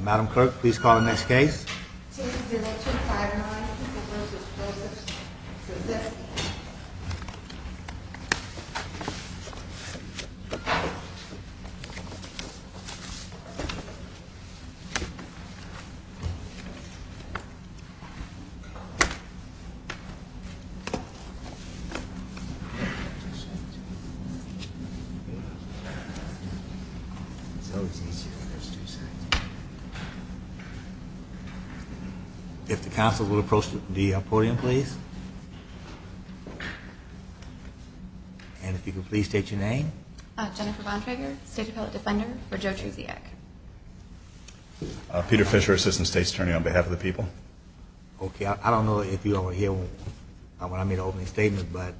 Madam Clerk, please call the next case. Cases 025 and 026, Trzeciak. If the council will approach the podium, please. And if you could please state your name. Jennifer Bontrager, State Appellate Defender for Joe Trzeciak. Peter Fisher, Assistant State's Attorney on behalf of the people. Okay, I don't know if you all were here when I made the opening statement, but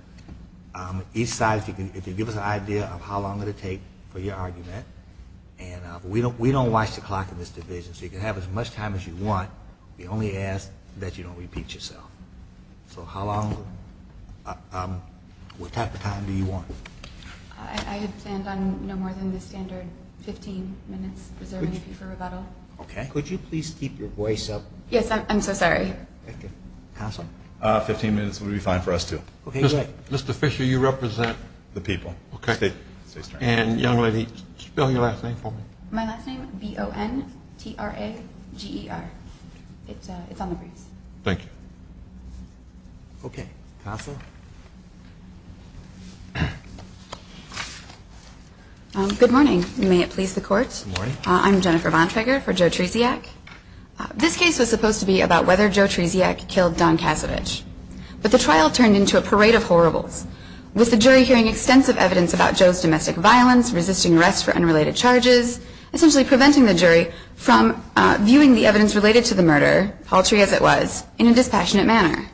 each side, if you could give us an idea of how long it will take for your argument. And we don't watch the clock in this division, so you can have as much time as you want. We only ask that you don't repeat yourself. So how long? What type of time do you want? I stand on no more than the standard 15 minutes. Is there anything for rebuttal? Okay. Could you please keep your voice up? Yes, I'm so sorry. 15 minutes would be fine for us, too. Mr. Fisher, you represent the people. Okay. And young lady, spell your last name for me. My last name, B-O-N-T-R-A-G-E-R. It's on the briefs. Thank you. Okay. Tassa. Good morning. May it please the Court. Good morning. I'm Jennifer Bontrager for Joe Trzeciak. This case was supposed to be about whether Joe Trzeciak killed Don Kasovich. But the trial turned into a parade of horribles. With the jury hearing extensive evidence about Joe's domestic violence, resisting arrest for unrelated charges, essentially preventing the jury from viewing the evidence related to the murder, paltry as it was, in a dispassionate manner.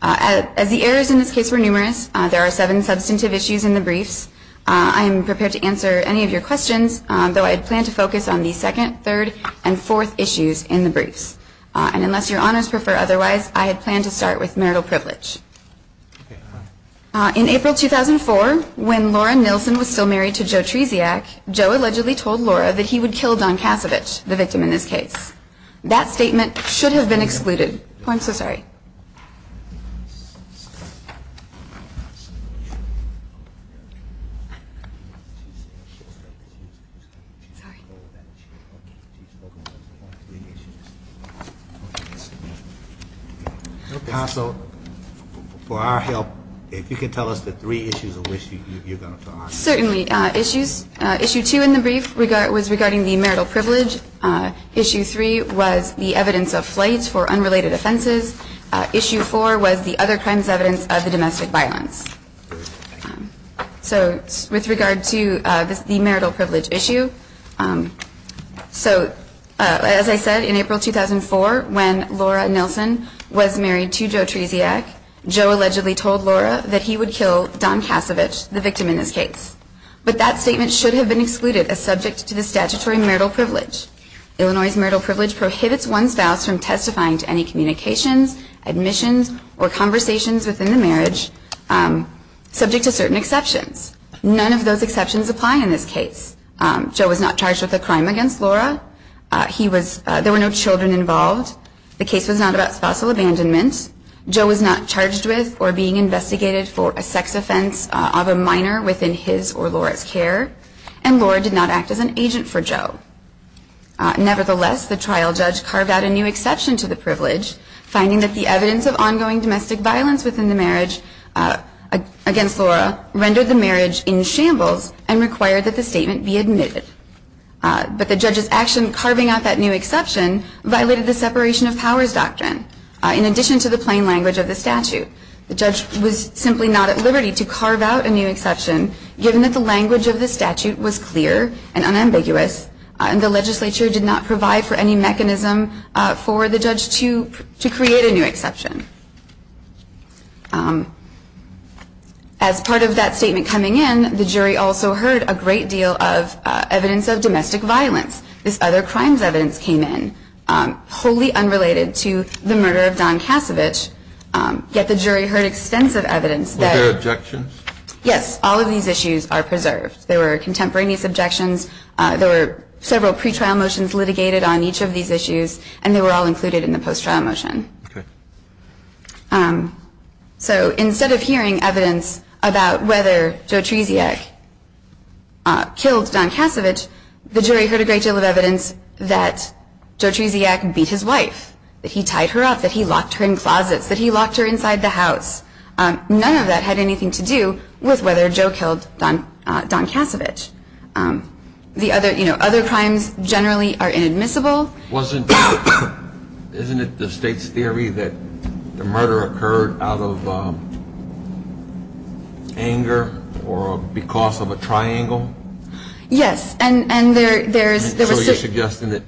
As the errors in this case were numerous, there are seven substantive issues in the briefs. I am prepared to answer any of your questions, though I had planned to focus on the second, third, and fourth issues in the briefs. And unless your honors prefer otherwise, I had planned to start with marital privilege. In April 2004, when Laura Nilsen was still married to Joe Trzeciak, Joe allegedly told Laura that he would kill Don Kasovich, the victim in this case. That statement should have been excluded. Oh, I'm so sorry. Sorry. Counsel, for our help, if you can tell us the three issues of which you're going to talk. Certainly. Issue two in the brief was regarding the marital privilege. Issue three was the evidence of flight for unrelated offenses. Issue four was the other crimes evidence of the domestic violence. So with regard to the marital privilege issue, so as I said, in April 2004, when Laura Nilsen was married to Joe Trzeciak, Joe allegedly told Laura that he would kill Don Kasovich, the victim in this case. But that statement should have been excluded as subject to the statutory marital privilege. Illinois' marital privilege prohibits one's spouse from testifying to any communications, admissions, or conversations within the marriage subject to certain exceptions. None of those exceptions apply in this case. Joe was not charged with a crime against Laura. There were no children involved. The case was not about spousal abandonment. Joe was not charged with or being investigated for a sex offense of a minor within his or Laura's care, and Laura did not act as an agent for Joe. Nevertheless, the trial judge carved out a new exception to the privilege, finding that the evidence of ongoing domestic violence within the marriage against Laura rendered the marriage in shambles and required that the statement be admitted. But the judge's action carving out that new exception violated the separation of powers doctrine. In addition to the plain language of the statute, the judge was simply not at liberty to carve out a new exception, given that the language of the statute was clear and unambiguous, and the legislature did not provide for any mechanism for the judge to create a new exception. As part of that statement coming in, the jury also heard a great deal of evidence of domestic violence. This other crimes evidence came in, wholly unrelated to the murder of Don Kasevich, yet the jury heard extensive evidence. Were there objections? Yes. All of these issues are preserved. There were contemporaneous objections. There were several pretrial motions litigated on each of these issues, and they were all included in the post-trial motion. Okay. So instead of hearing evidence about whether Joe Treziak killed Don Kasevich, the jury heard a great deal of evidence that Joe Treziak beat his wife, that he tied her up, that he locked her in closets, that he locked her inside the house. None of that had anything to do with whether Joe killed Don Kasevich. The other crimes generally are inadmissible. Isn't it the state's theory that the murder occurred out of anger or because of a triangle? Yes. So you're suggesting that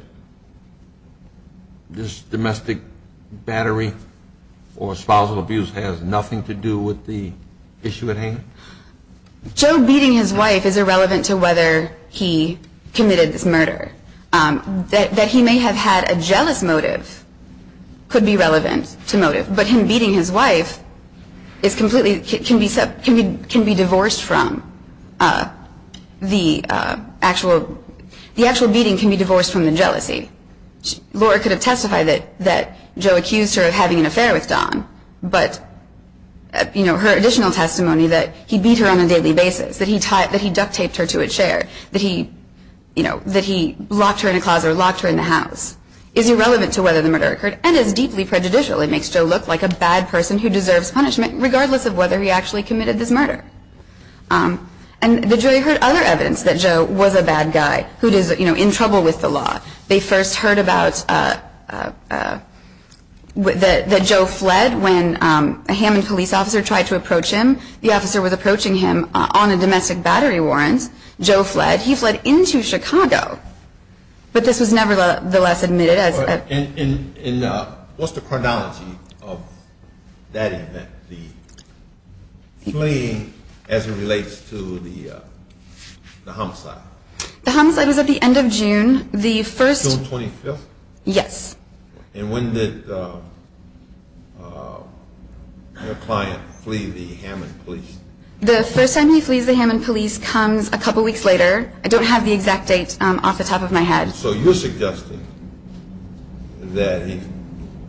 this domestic battery or spousal abuse has nothing to do with the issue at hand? Joe beating his wife is irrelevant to whether he committed this murder. That he may have had a jealous motive could be relevant to motive, but him beating his wife can be divorced from the jealousy. Laura could have testified that Joe accused her of having an affair with Don, but her additional testimony that he beat her on a daily basis, that he duct-taped her to a chair, that he locked her in a closet or locked her in the house, is irrelevant to whether the murder occurred and is deeply prejudicial. It makes Joe look like a bad person who deserves punishment, regardless of whether he actually committed this murder. And the jury heard other evidence that Joe was a bad guy who is in trouble with the law. They first heard that Joe fled when a Hammond police officer tried to approach him. The officer was approaching him on a domestic battery warrant. Joe fled. He fled into Chicago. But this was nevertheless admitted. And what's the chronology of that event, the fleeing as it relates to the homicide? The homicide was at the end of June. June 25th? Yes. And when did your client flee the Hammond police? The first time he flees the Hammond police comes a couple weeks later. I don't have the exact date off the top of my head. So you're suggesting that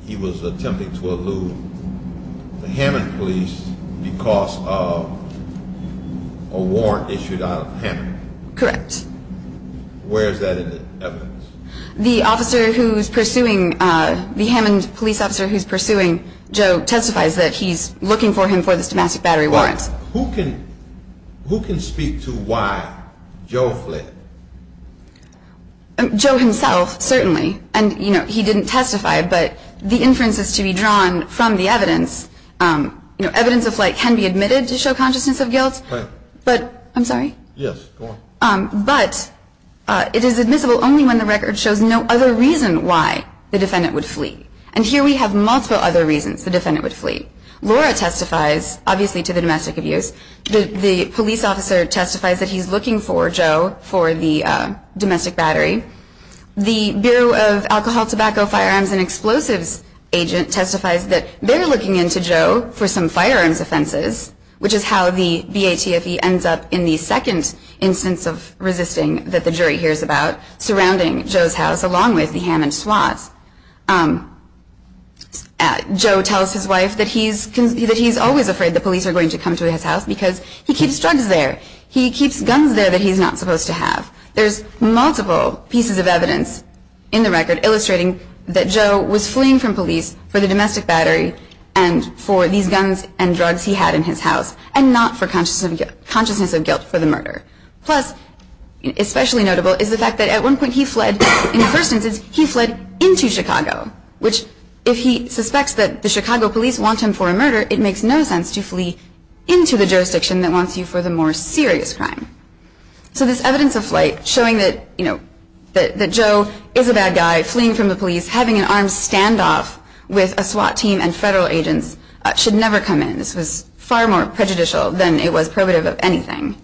he was attempting to elude the Hammond police because of a warrant issued out of Hammond? Correct. Where is that evidence? The officer who's pursuing the Hammond police officer who's pursuing Joe testifies that he's looking for him for this domestic battery warrant. Who can speak to why Joe fled? Joe himself, certainly. And he didn't testify, but the inferences to be drawn from the evidence, evidence of flight can be admitted to show consciousness of guilt. But it is admissible only when the record shows no other reason why the defendant would flee. And here we have multiple other reasons the defendant would flee. Laura testifies, obviously, to the domestic abuse. The police officer testifies that he's looking for Joe for the domestic battery. The Bureau of Alcohol, Tobacco, Firearms, and Explosives agent testifies that they're looking into Joe for some firearms offenses, which is how the BATFE ends up in the second instance of resisting that the jury hears about, surrounding Joe's house along with the Hammond SWATs. Joe tells his wife that he's always afraid the police are going to come to his house because he keeps drugs there. He keeps guns there that he's not supposed to have. There's multiple pieces of evidence in the record illustrating that Joe was fleeing from police for the domestic battery and for these guns and drugs he had in his house and not for consciousness of guilt for the murder. Plus, especially notable, is the fact that at one point he fled in the first instance he fled into Chicago, which if he suspects that the Chicago police want him for a murder, it makes no sense to flee into the jurisdiction that wants you for the more serious crime. So this evidence of flight showing that, you know, that Joe is a bad guy fleeing from the police, having an armed standoff with a SWAT team and federal agents should never come in. This was far more prejudicial than it was probative of anything.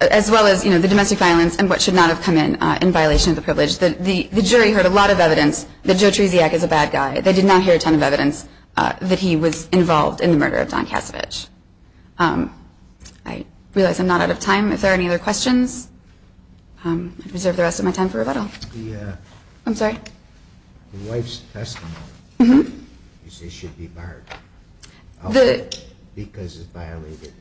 As well as, you know, the domestic violence and what should not have come in in violation of the privilege. The jury heard a lot of evidence that Joe Tresiak is a bad guy. They did not hear a ton of evidence that he was involved in the murder of Don Kasovich. I realize I'm not out of time. If there are any other questions, I reserve the rest of my time for rebuttal. I'm sorry? The wife's testimony, you say she should be barred because it's violated.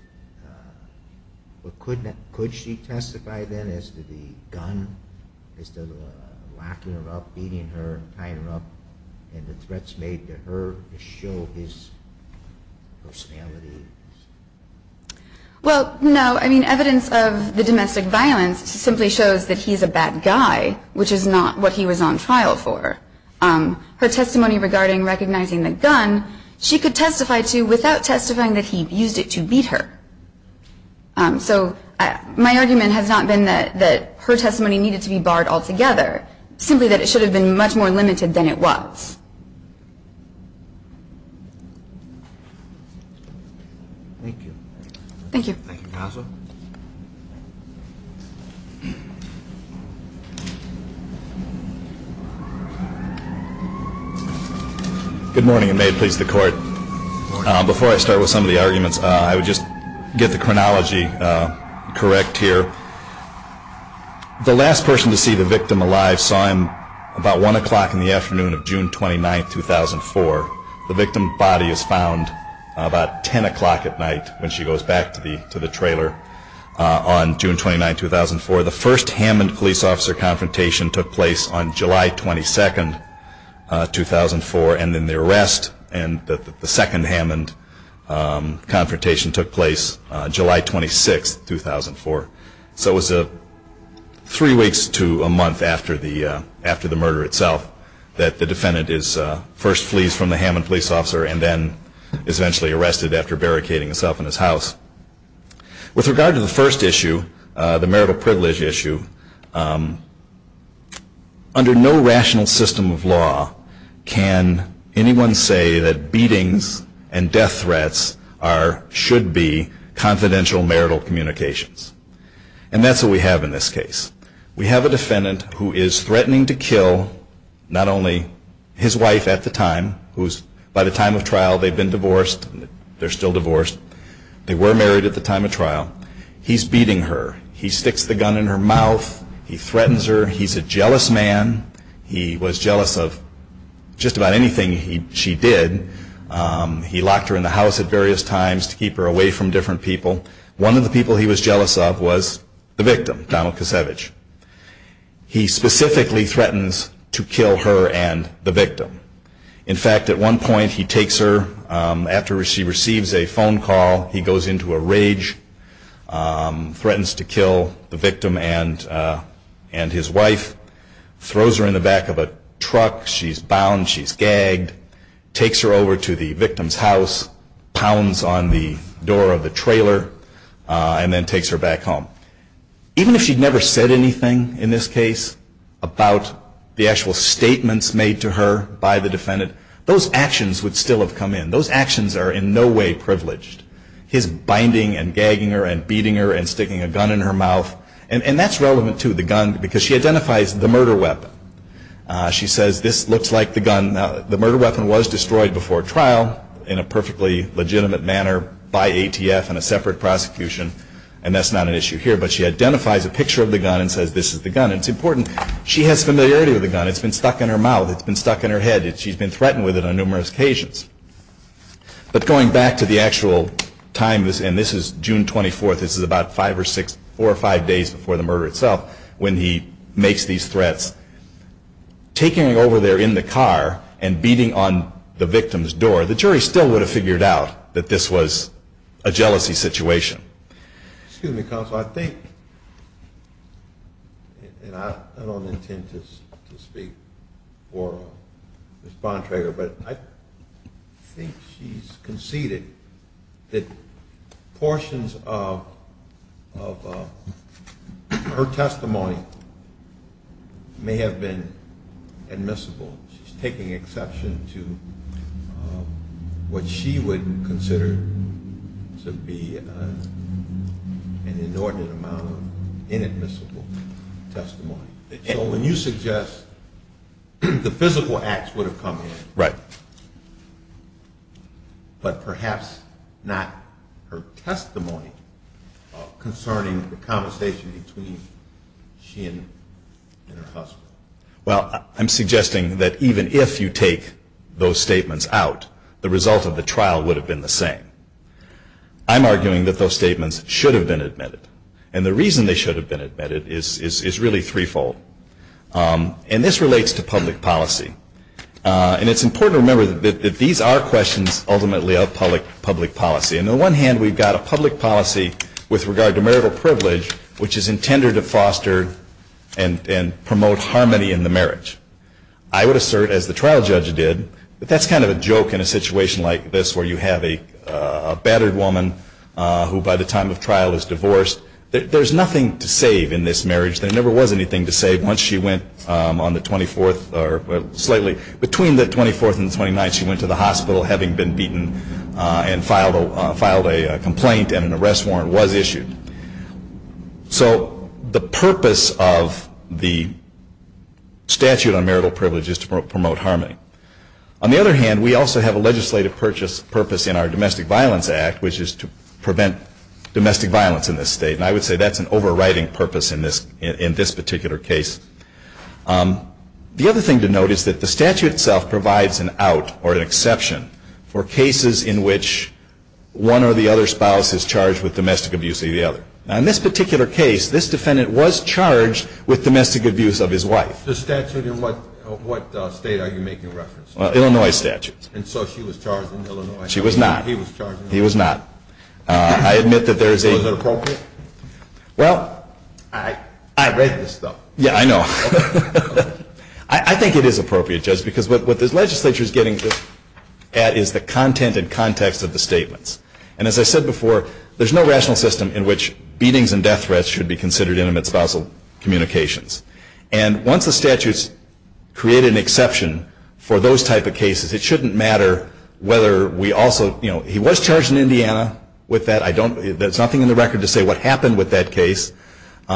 Could she testify then as to the gun, as to locking her up, beating her, tying her up, and the threats made to her to show his personality? Well, no. I mean, evidence of the domestic violence simply shows that he's a bad guy, which is not what he was on trial for. Her testimony regarding recognizing the gun, she could testify to without testifying that he used it to beat her. So my argument has not been that her testimony needed to be barred altogether, simply that it should have been much more limited than it was. Thank you. Thank you. Thank you, counsel. Good morning, and may it please the Court. Before I start with some of the arguments, I would just get the chronology correct here. The last person to see the victim alive saw him about 1 o'clock in the afternoon of June 29, 2004. The victim's body is found about 10 o'clock at night when she goes back to the trailer on June 29, 2004. The first Hammond police officer confrontation took place on July 22, 2004, and then the arrest and the second Hammond confrontation took place July 26, 2004. So it was three weeks to a month after the murder itself that the defendant first flees from the Hammond police officer and then is eventually arrested after barricading himself in his house. With regard to the first issue, the marital privilege issue, under no rational system of law can anyone say that beatings and death threats should be confidential marital communications. And that's what we have in this case. We have a defendant who is threatening to kill not only his wife at the time, who is by the time of trial, they've been divorced, they're still divorced, they were married at the time of trial. He's beating her. He sticks the gun in her mouth. He threatens her. He's a jealous man. He was jealous of just about anything she did. He locked her in the house at various times to keep her away from different people. One of the people he was jealous of was the victim, Donald Kosevich. He specifically threatens to kill her and the victim. In fact, at one point he takes her. After she receives a phone call, he goes into a rage, threatens to kill the victim and his wife, throws her in the back of a truck. She's bound. She's gagged. Takes her over to the victim's house, pounds on the door of the trailer, and then takes her back home. Even if she'd never said anything in this case about the actual statements made to her by the defendant, those actions would still have come in. Those actions are in no way privileged. His binding and gagging her and beating her and sticking a gun in her mouth, and that's relevant to the gun because she identifies the murder weapon. She says, this looks like the gun. The murder weapon was destroyed before trial in a perfectly legitimate manner by ATF and a separate prosecution, and that's not an issue here. But she identifies a picture of the gun and says this is the gun. It's important. She has familiarity with the gun. It's been stuck in her mouth. It's been stuck in her head. She's been threatened with it on numerous occasions. But going back to the actual time, and this is June 24th, this is about four or five days before the murder itself when he makes these threats, taking her over there in the car and beating on the victim's door, the jury still would have figured out that this was a jealousy situation. Excuse me, counsel. I think, and I don't intend to speak for Ms. Bontrager, but I think she's conceded that portions of her testimony may have been admissible. She's taking exception to what she would consider to be an inordinate amount of inadmissible testimony. So when you suggest the physical acts would have come in, but perhaps not her testimony concerning the conversation between she and her husband. Well, I'm suggesting that even if you take those statements out, the result of the trial would have been the same. I'm arguing that those statements should have been admitted. And the reason they should have been admitted is really threefold. And this relates to public policy. And it's important to remember that these are questions ultimately of public policy. And on the one hand, we've got a public policy with regard to marital privilege, which is intended to foster and promote harmony in the marriage. I would assert, as the trial judge did, that that's kind of a joke in a situation like this where you have a battered woman who, by the time of trial, is divorced. There's nothing to save in this marriage. There never was anything to save once she went on the 24th or slightly between the 24th and the 29th, having been beaten and filed a complaint and an arrest warrant was issued. So the purpose of the statute on marital privilege is to promote harmony. On the other hand, we also have a legislative purpose in our Domestic Violence Act, which is to prevent domestic violence in this state. And I would say that's an overriding purpose in this particular case. The other thing to note is that the statute itself provides an out or an exception for cases in which one or the other spouse is charged with domestic abuse of the other. Now, in this particular case, this defendant was charged with domestic abuse of his wife. The statute in what state are you making reference to? Illinois statute. And so she was charged in Illinois. She was not. He was charged in Illinois. He was not. I admit that there is a... So is it appropriate? Well... I read this stuff. Yeah, I know. I think it is appropriate, Judge, because what this legislature is getting at is the content and context of the statements. And as I said before, there's no rational system in which beatings and death threats should be considered intimate spousal communications. And once the statute's created an exception for those type of cases, it shouldn't matter whether we also, you know, he was charged in Indiana with that. There's nothing in the record to say what happened with that case.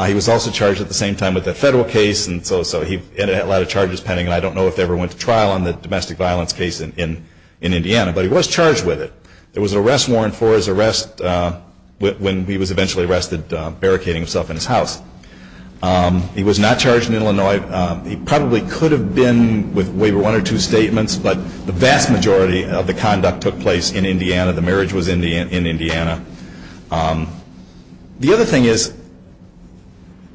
He was also charged at the same time with a federal case, and so he ended up with a lot of charges pending, and I don't know if they ever went to trial on the domestic violence case in Indiana. But he was charged with it. There was an arrest warrant for his arrest when he was eventually arrested, barricading himself in his house. He was not charged in Illinois. He probably could have been with waiver one or two statements, but the vast majority of the conduct took place in Indiana. The marriage was in Indiana. The other thing is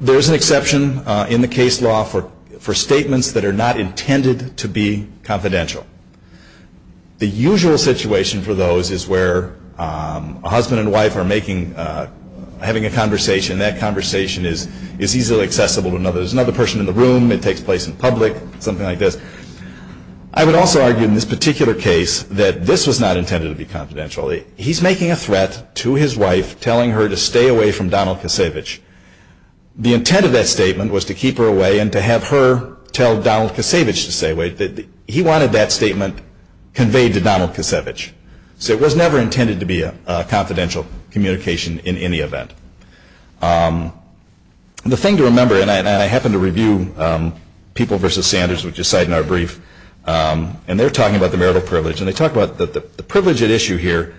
there is an exception in the case law for statements that are not intended to be confidential. The usual situation for those is where a husband and wife are making, having a conversation, and that conversation is easily accessible to another. There's another person in the room. It takes place in public, something like this. I would also argue in this particular case that this was not intended to be confidential. He's making a threat to his wife, telling her to stay away from Donald Kisevich. The intent of that statement was to keep her away and to have her tell Donald Kisevich to stay away. He wanted that statement conveyed to Donald Kisevich. So it was never intended to be a confidential communication in any event. The thing to remember, and I happen to review People v. Sanders, which is cited in our brief, and they're talking about the marital privilege, and they talk about that the privilege at issue here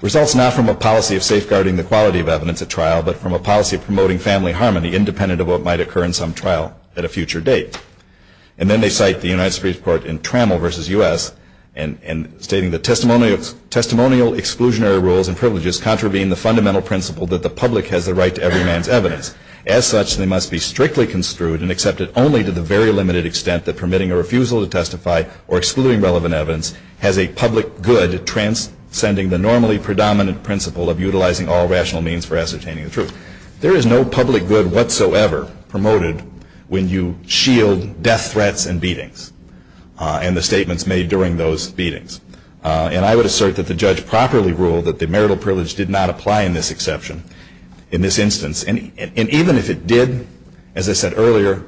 results not from a policy of safeguarding the quality of evidence at trial but from a policy of promoting family harmony independent of what might occur in some trial at a future date. And then they cite the United States Court in Trammell v. U.S. stating that testimonial exclusionary rules and privileges contravene the fundamental principle that the public has the right to every man's evidence. As such, they must be strictly construed and accepted only to the very limited extent that permitting a refusal to testify or excluding relevant evidence has a public good transcending the normally predominant principle of utilizing all rational means for ascertaining the truth. There is no public good whatsoever promoted when you shield death threats and beatings and the statements made during those beatings. And I would assert that the judge properly ruled that the marital privilege did not apply in this exception, in this instance. And even if it did, as I said earlier,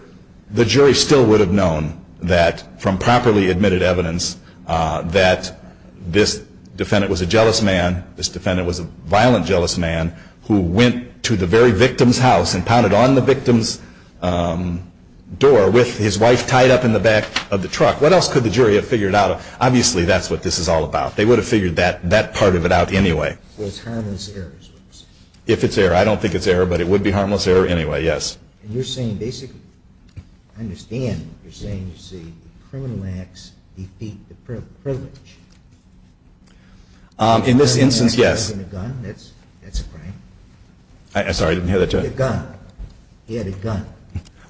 the jury still would have known that from properly admitted evidence that this defendant was a jealous man, this defendant was a violent jealous man who went to the very victim's house and pounded on the victim's door with his wife tied up in the back of the truck. What else could the jury have figured out? Obviously, that's what this is all about. They would have figured that part of it out anyway. So it's harmless errors, would you say? If it's error. I don't think it's error, but it would be harmless error anyway, yes. And you're saying basically, I understand what you're saying. You're saying, you see, the criminal acts defeat the privilege. In this instance, yes. He had a gun. That's a crime. Sorry, I didn't hear that, Judge. He had a gun. He had a gun.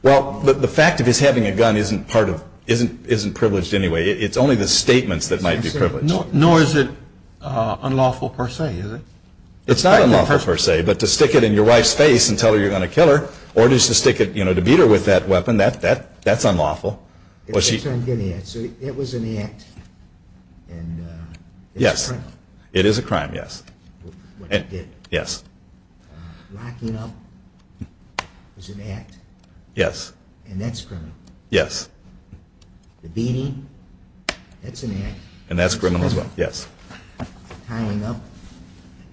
Well, the fact of his having a gun isn't privileged anyway. It's only the statements that might be privileged. Nor is it unlawful per se, is it? It's not unlawful per se, but to stick it in your wife's face and tell her you're going to kill her or just to stick it, you know, to beat her with that weapon, that's unlawful. It was an act and it's a crime. Yes, it is a crime, yes. What you did. Yes. Locking up was an act. Yes. And that's criminal. Yes. The beating, that's an act. And that's criminal as well, yes. Tying up,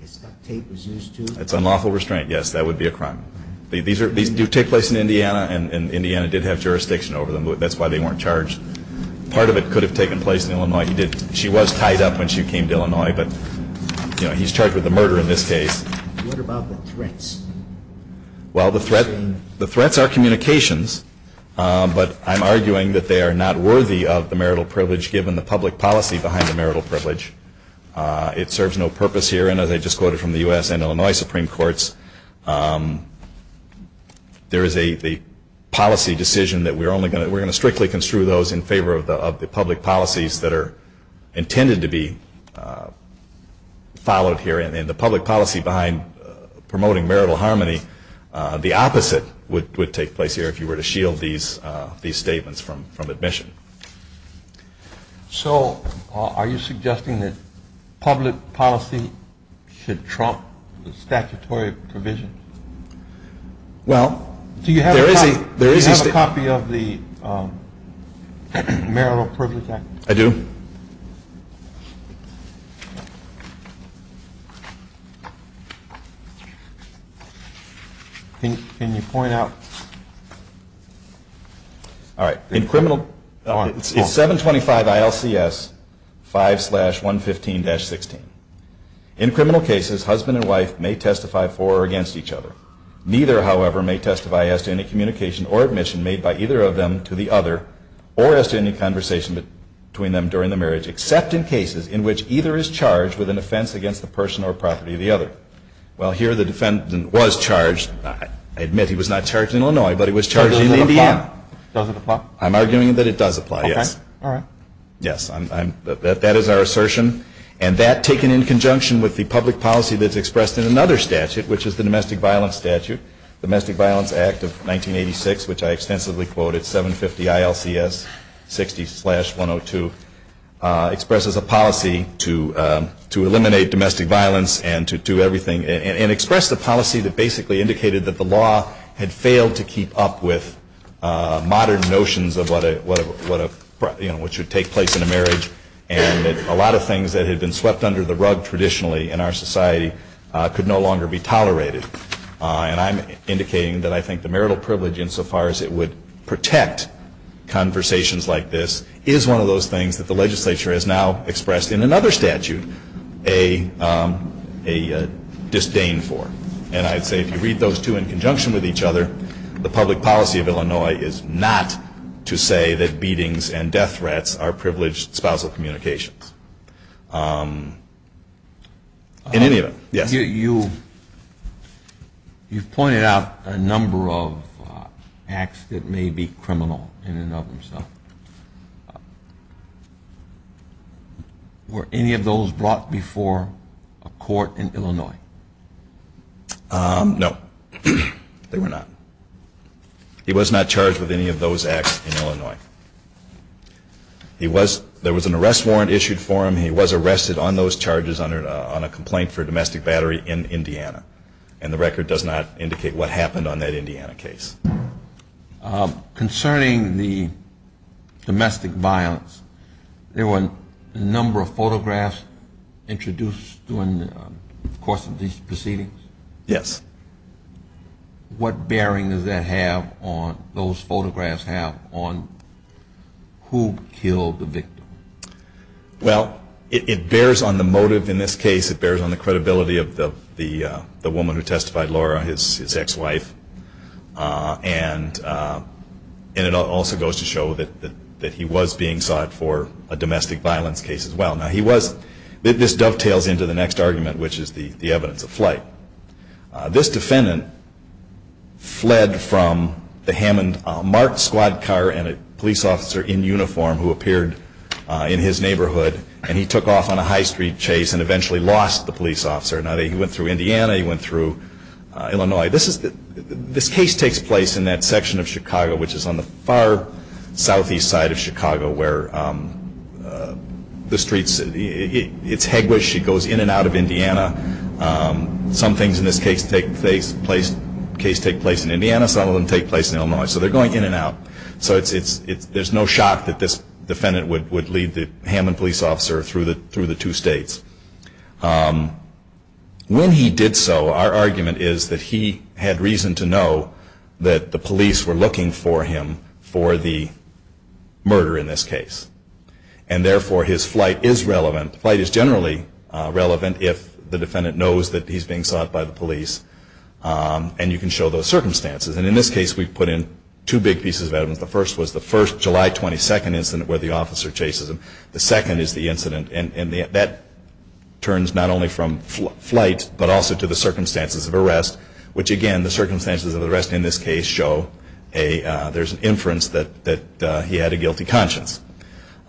as duct tape was used to. That's unlawful restraint, yes. That would be a crime. These do take place in Indiana, and Indiana did have jurisdiction over them. That's why they weren't charged. Part of it could have taken place in Illinois. She was tied up when she came to Illinois, but, you know, he's charged with a murder in this case. What about the threats? Well, the threats are communications, but I'm arguing that they are not worthy of the marital privilege given the public policy behind the marital privilege. It serves no purpose here, and as I just quoted from the U.S. and Illinois Supreme Courts, there is a policy decision that we're going to strictly construe those in favor of the public policies that are intended to be followed here, and the public policy behind promoting marital harmony, the opposite would take place here if you were to shield these statements from admission. So are you suggesting that public policy should trump the statutory provision? Well, there is a statement. Do you have a copy of the Marital Privilege Act? I do. Can you point out? All right. It's 725 ILCS 5-115-16. In criminal cases, husband and wife may testify for or against each other. Neither, however, may testify as to any communication or admission made by either of them to the other or as to any conversation between them during the marriage, except in cases in which either is charged with an offense against the person or property of the other. Well, here the defendant was charged. I admit he was not charged in Illinois, but he was charged in Indiana. Does it apply? I'm arguing that it does apply, yes. All right. Yes. That is our assertion. And that, taken in conjunction with the public policy that's expressed in another statute, which is the Domestic Violence Statute, Domestic Violence Act of 1986, which I extensively quoted, 750 ILCS 60-102, expresses a policy to eliminate domestic violence and to do everything and expressed a policy that basically indicated that the law had failed to keep up with modern notions of what should take place in a marriage and that a lot of things that had been swept under the rug traditionally in our society could no longer be tolerated. And I'm indicating that I think the marital privilege, insofar as it would protect conversations like this, is one of those things that the legislature has now expressed in another statute a disdain for. And I'd say if you read those two in conjunction with each other, the public policy of Illinois is not to say that beatings and death threats are privileged spousal communications in any of them. You've pointed out a number of acts that may be criminal in and of themselves. Were any of those brought before a court in Illinois? No, they were not. He was not charged with any of those acts in Illinois. There was an arrest warrant issued for him. He was arrested on those charges on a complaint for domestic battery in Indiana. And the record does not indicate what happened on that Indiana case. Concerning the domestic violence, there were a number of photographs introduced during the course of these proceedings. Yes. What bearing does that have on, those photographs have, on who killed the victim? Well, it bears on the motive in this case. It bears on the credibility of the woman who testified, Laura, his ex-wife. And it also goes to show that he was being sought for a domestic violence case as well. Now he was, this dovetails into the next argument, which is the evidence of flight. This defendant fled from the Hammond marked squad car and a police officer in uniform who appeared in his neighborhood. And he took off on a high street chase and eventually lost the police officer. Now he went through Indiana, he went through Illinois. This case takes place in that section of Chicago, which is on the far southeast side of Chicago, where the streets, it's heguish, it goes in and out of Indiana. Some things in this case take place in Indiana, some of them take place in Illinois. So they're going in and out. So there's no shock that this defendant would lead the Hammond police officer through the two states. When he did so, our argument is that he had reason to know that the police were looking for him for the murder in this case. And therefore, his flight is relevant. Flight is generally relevant if the defendant knows that he's being sought by the police. And you can show those circumstances. And in this case, we put in two big pieces of evidence. The first was the first July 22 incident where the officer chases him. The second is the incident, and that turns not only from flight but also to the circumstances of arrest, which again, the circumstances of arrest in this case show there's an inference that he had a guilty conscience.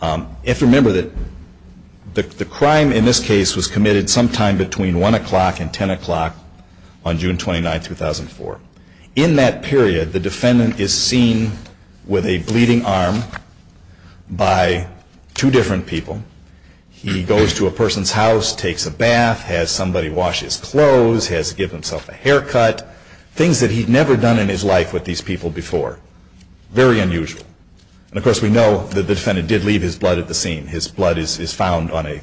You have to remember that the crime in this case was committed sometime between 1 o'clock and 10 o'clock on June 29, 2004. In that period, the defendant is seen with a bleeding arm by two different people. He goes to a person's house, takes a bath, has somebody wash his clothes, has given himself a haircut, things that he'd never done in his life with these people before. Very unusual. And of course, we know that the defendant did leave his blood at the scene. His blood is found on a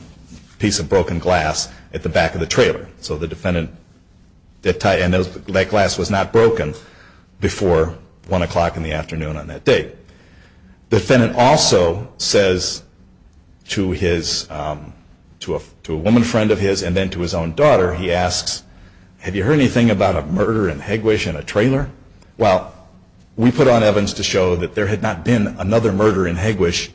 piece of broken glass at the back of the trailer. So the defendant, that glass was not broken before 1 o'clock in the afternoon on that date. The defendant also says to a woman friend of his and then to his own daughter, he asks, have you heard anything about a murder in Hegwisch in a trailer? Well, we put on evidence to show that there had not been another murder in Hegwisch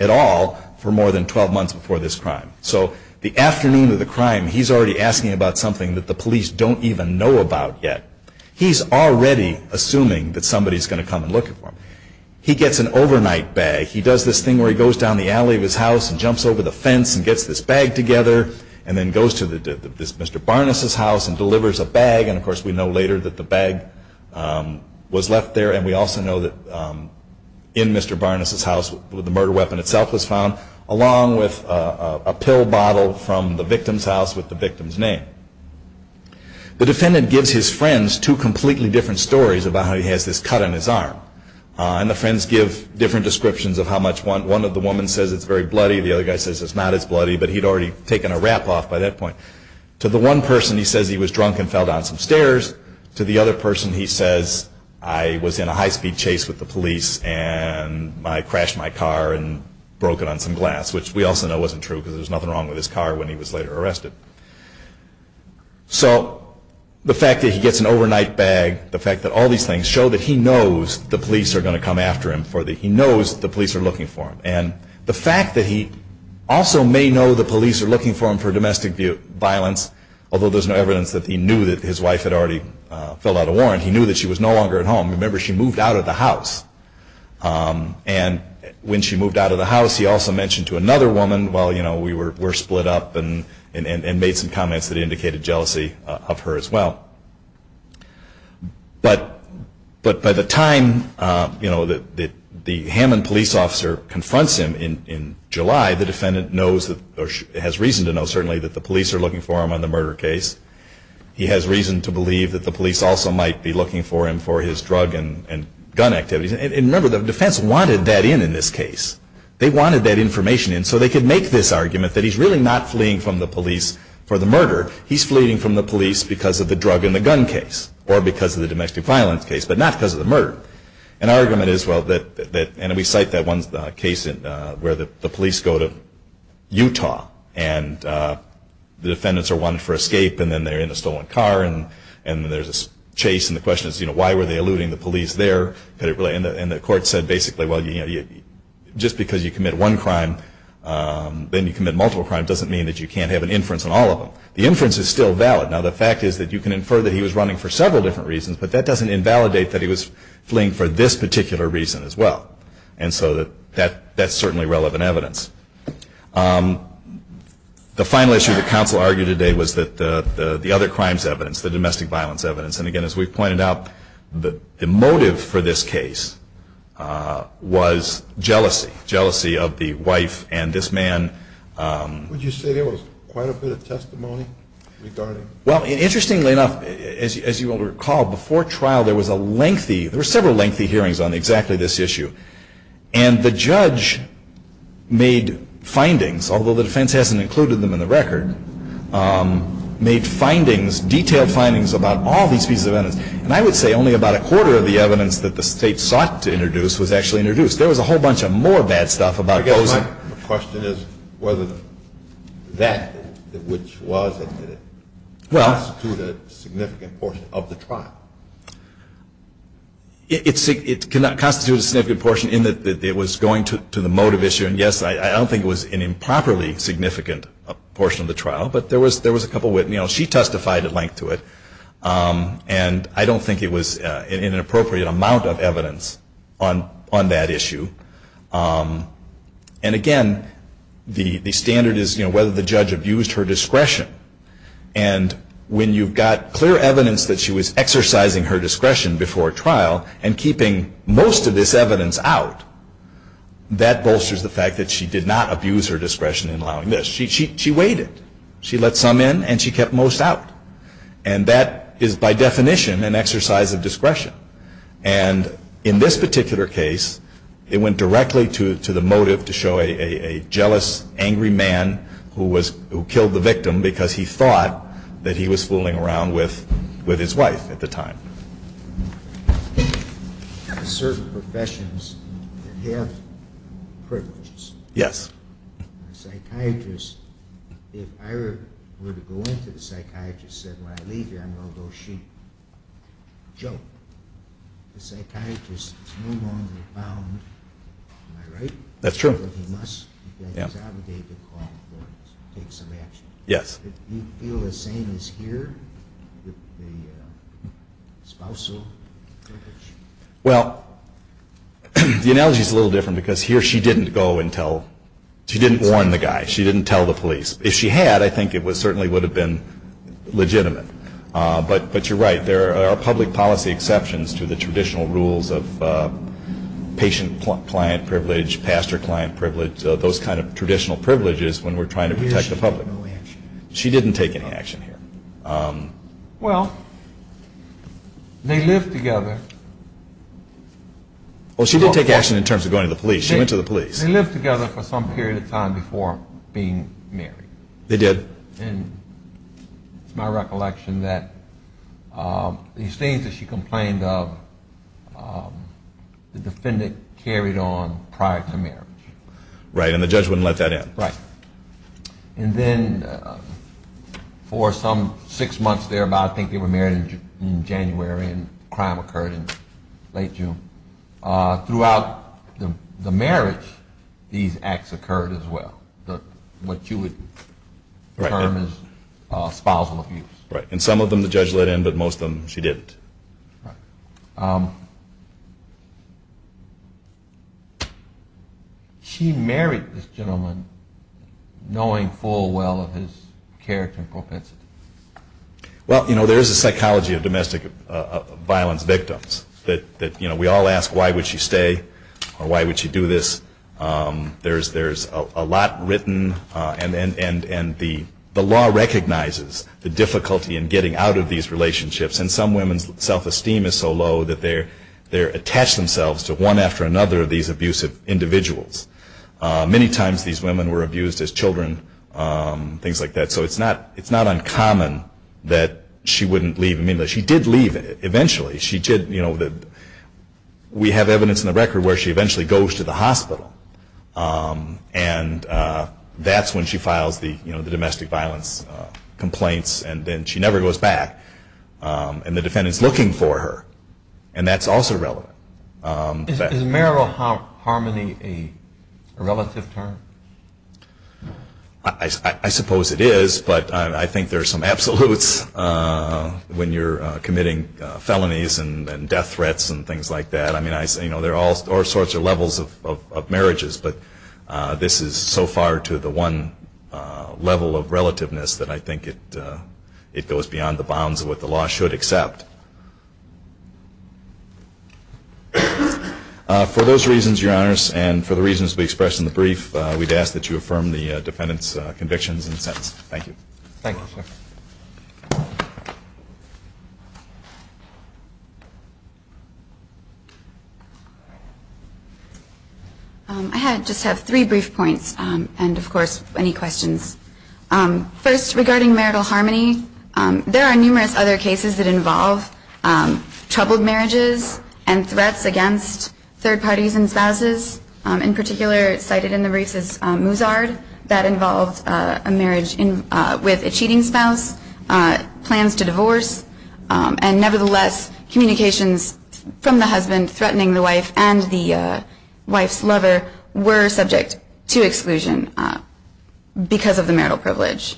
at all for more than 12 months before this crime. So the afternoon of the crime, he's already asking about something that the police don't even know about yet. He's already assuming that somebody's going to come and look for him. He gets an overnight bag. He does this thing where he goes down the alley of his house and jumps over the fence and gets this bag together and then goes to this Mr. Barness's house and delivers a bag. And of course, we know later that the bag was left there. And we also know that in Mr. Barness's house, the murder weapon itself was found, along with a pill bottle from the victim's house with the victim's name. The defendant gives his friends two completely different stories about how he has this cut on his arm. And the friends give different descriptions of how much one of the women says it's very bloody, the other guy says it's not as bloody, but he'd already taken a rap off by that point. To the one person, he says he was drunk and fell down some stairs. To the other person, he says, I was in a high-speed chase with the police and I crashed my car and broke it on some glass, which we also know wasn't true because there was nothing wrong with his car when he was later arrested. So the fact that he gets an overnight bag, the fact that all these things show that he knows the police are going to come after him, he knows the police are looking for him. And the fact that he also may know the police are looking for him for domestic violence, although there's no evidence that he knew that his wife had already filled out a warrant, he knew that she was no longer at home. Remember, she moved out of the house. And when she moved out of the house, he also mentioned to another woman, well, you know, we were split up and made some comments that indicated jealousy of her as well. But by the time the Hammond police officer confronts him in July, the defendant has reason to know certainly that the police are looking for him on the murder case. He has reason to believe that the police also might be looking for him for his drug and gun activities. And remember, the defense wanted that in in this case. They wanted that information in so they could make this argument that he's really not fleeing from the police for the murder. He's fleeing from the police because of the drug and the gun case or because of the domestic violence case, but not because of the murder. An argument is, well, that, and we cite that one case where the police go to Utah and the defendants are wanted for escape and then they're in a stolen car and there's this chase and the question is, you know, why were they eluding the police there? And the court said basically, well, just because you commit one crime, then you commit multiple crimes doesn't mean that you can't have an inference on all of them. The inference is still valid. Now, the fact is that you can infer that he was running for several different reasons, but that doesn't invalidate that he was fleeing for this particular reason as well. And so that's certainly relevant evidence. The final issue that counsel argued today was that the other crimes evidence, the domestic violence evidence, and again, as we've pointed out, the motive for this case was jealousy, jealousy of the wife and this man. Would you say there was quite a bit of testimony regarding? Well, interestingly enough, as you will recall, before trial there was a lengthy, there were several lengthy hearings on exactly this issue. And the judge made findings, although the defense hasn't included them in the record, made findings, detailed findings about all these pieces of evidence. And I would say only about a quarter of the evidence that the state sought to introduce was actually introduced. There was a whole bunch of more bad stuff about those. My question is whether that, which was it, did it constitute a significant portion of the trial? It cannot constitute a significant portion in that it was going to the motive issue. And yes, I don't think it was an improperly significant portion of the trial, but there was a couple, you know, she testified at length to it. And I don't think it was in an appropriate amount of evidence on that issue. And again, the standard is, you know, whether the judge abused her discretion. And when you've got clear evidence that she was exercising her discretion before trial and keeping most of this evidence out, that bolsters the fact that she did not abuse her discretion in allowing this. She waited. She let some in and she kept most out. And that is, by definition, an exercise of discretion. And in this particular case, it went directly to the motive to show a jealous, angry man who killed the victim because he thought that he was fooling around with his wife at the time. Certain professions have privileges. Yes. The psychiatrist, if I were to go in to the psychiatrist and said, when I leave here, I'm going to go sheep, joke. The psychiatrist is no longer bound. Am I right? That's true. He must. He's obligated to take some action. Yes. Do you feel the same as here with the spousal privilege? Well, the analogy is a little different because here she didn't go and tell, she didn't warn the guy. She didn't tell the police. If she had, I think it certainly would have been legitimate. But you're right. There are public policy exceptions to the traditional rules of patient-client privilege, pastor-client privilege, those kind of traditional privileges when we're trying to protect the public. She didn't take any action here. Well, they lived together. Well, she did take action in terms of going to the police. She went to the police. They lived together for some period of time before being married. They did. And it's my recollection that these things that she complained of, the defendant carried on prior to marriage. Right. And the judge wouldn't let that in. Right. And then for some six months thereabout, I think they were married in January and the crime occurred in late June. Throughout the marriage, these acts occurred as well, what you would term as spousal abuse. Right. And some of them the judge let in, but most of them she didn't. Right. She married this gentleman knowing full well of his character and propensity. Well, you know, there is a psychology of domestic violence victims that, you know, we all ask why would she stay or why would she do this. There's a lot written, and the law recognizes the difficulty in getting out of these relationships, and some women's self-esteem is so low that they attach themselves to one after another of these abusive individuals. Many times these women were abused as children, things like that. So it's not uncommon that she wouldn't leave. I mean, she did leave eventually. She did, you know, we have evidence in the record where she eventually goes to the hospital, and that's when she files the domestic violence complaints, and then she never goes back. And the defendant is looking for her, and that's also relevant. Is marital harmony a relative term? I suppose it is, but I think there are some absolutes when you're committing felonies and death threats and things like that. I mean, you know, there are all sorts of levels of marriages, but this is so far to the one level of relativeness that I think it goes beyond the bounds of what the law should accept. For those reasons, Your Honors, and for the reasons we expressed in the brief, we'd ask that you affirm the defendant's convictions and sentence. Thank you. Thank you, sir. I just have three brief points and, of course, any questions. First, regarding marital harmony, there are numerous other cases that involve troubled marriages in particular cited in the briefs is Muzard. That involved a marriage with a cheating spouse, plans to divorce, and nevertheless communications from the husband threatening the wife and the wife's lover were subject to exclusion because of the marital privilege.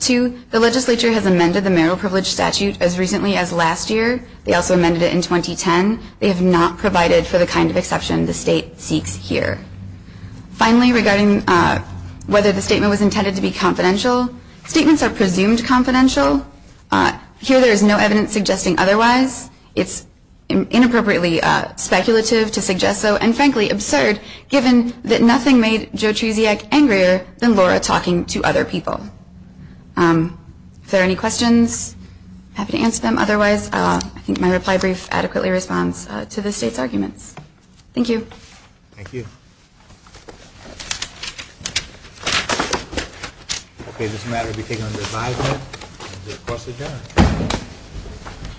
Two, the legislature has amended the marital privilege statute as recently as last year. They also amended it in 2010. They have not provided for the kind of exception the state seeks here. Finally, regarding whether the statement was intended to be confidential, statements are presumed confidential. Here there is no evidence suggesting otherwise. It's inappropriately speculative to suggest so and, frankly, absurd, given that nothing made Joe Trusiak angrier than Laura talking to other people. If there are any questions, I'm happy to answer them. Otherwise, I think my reply brief adequately responds to the state's arguments. Thank you. Thank you.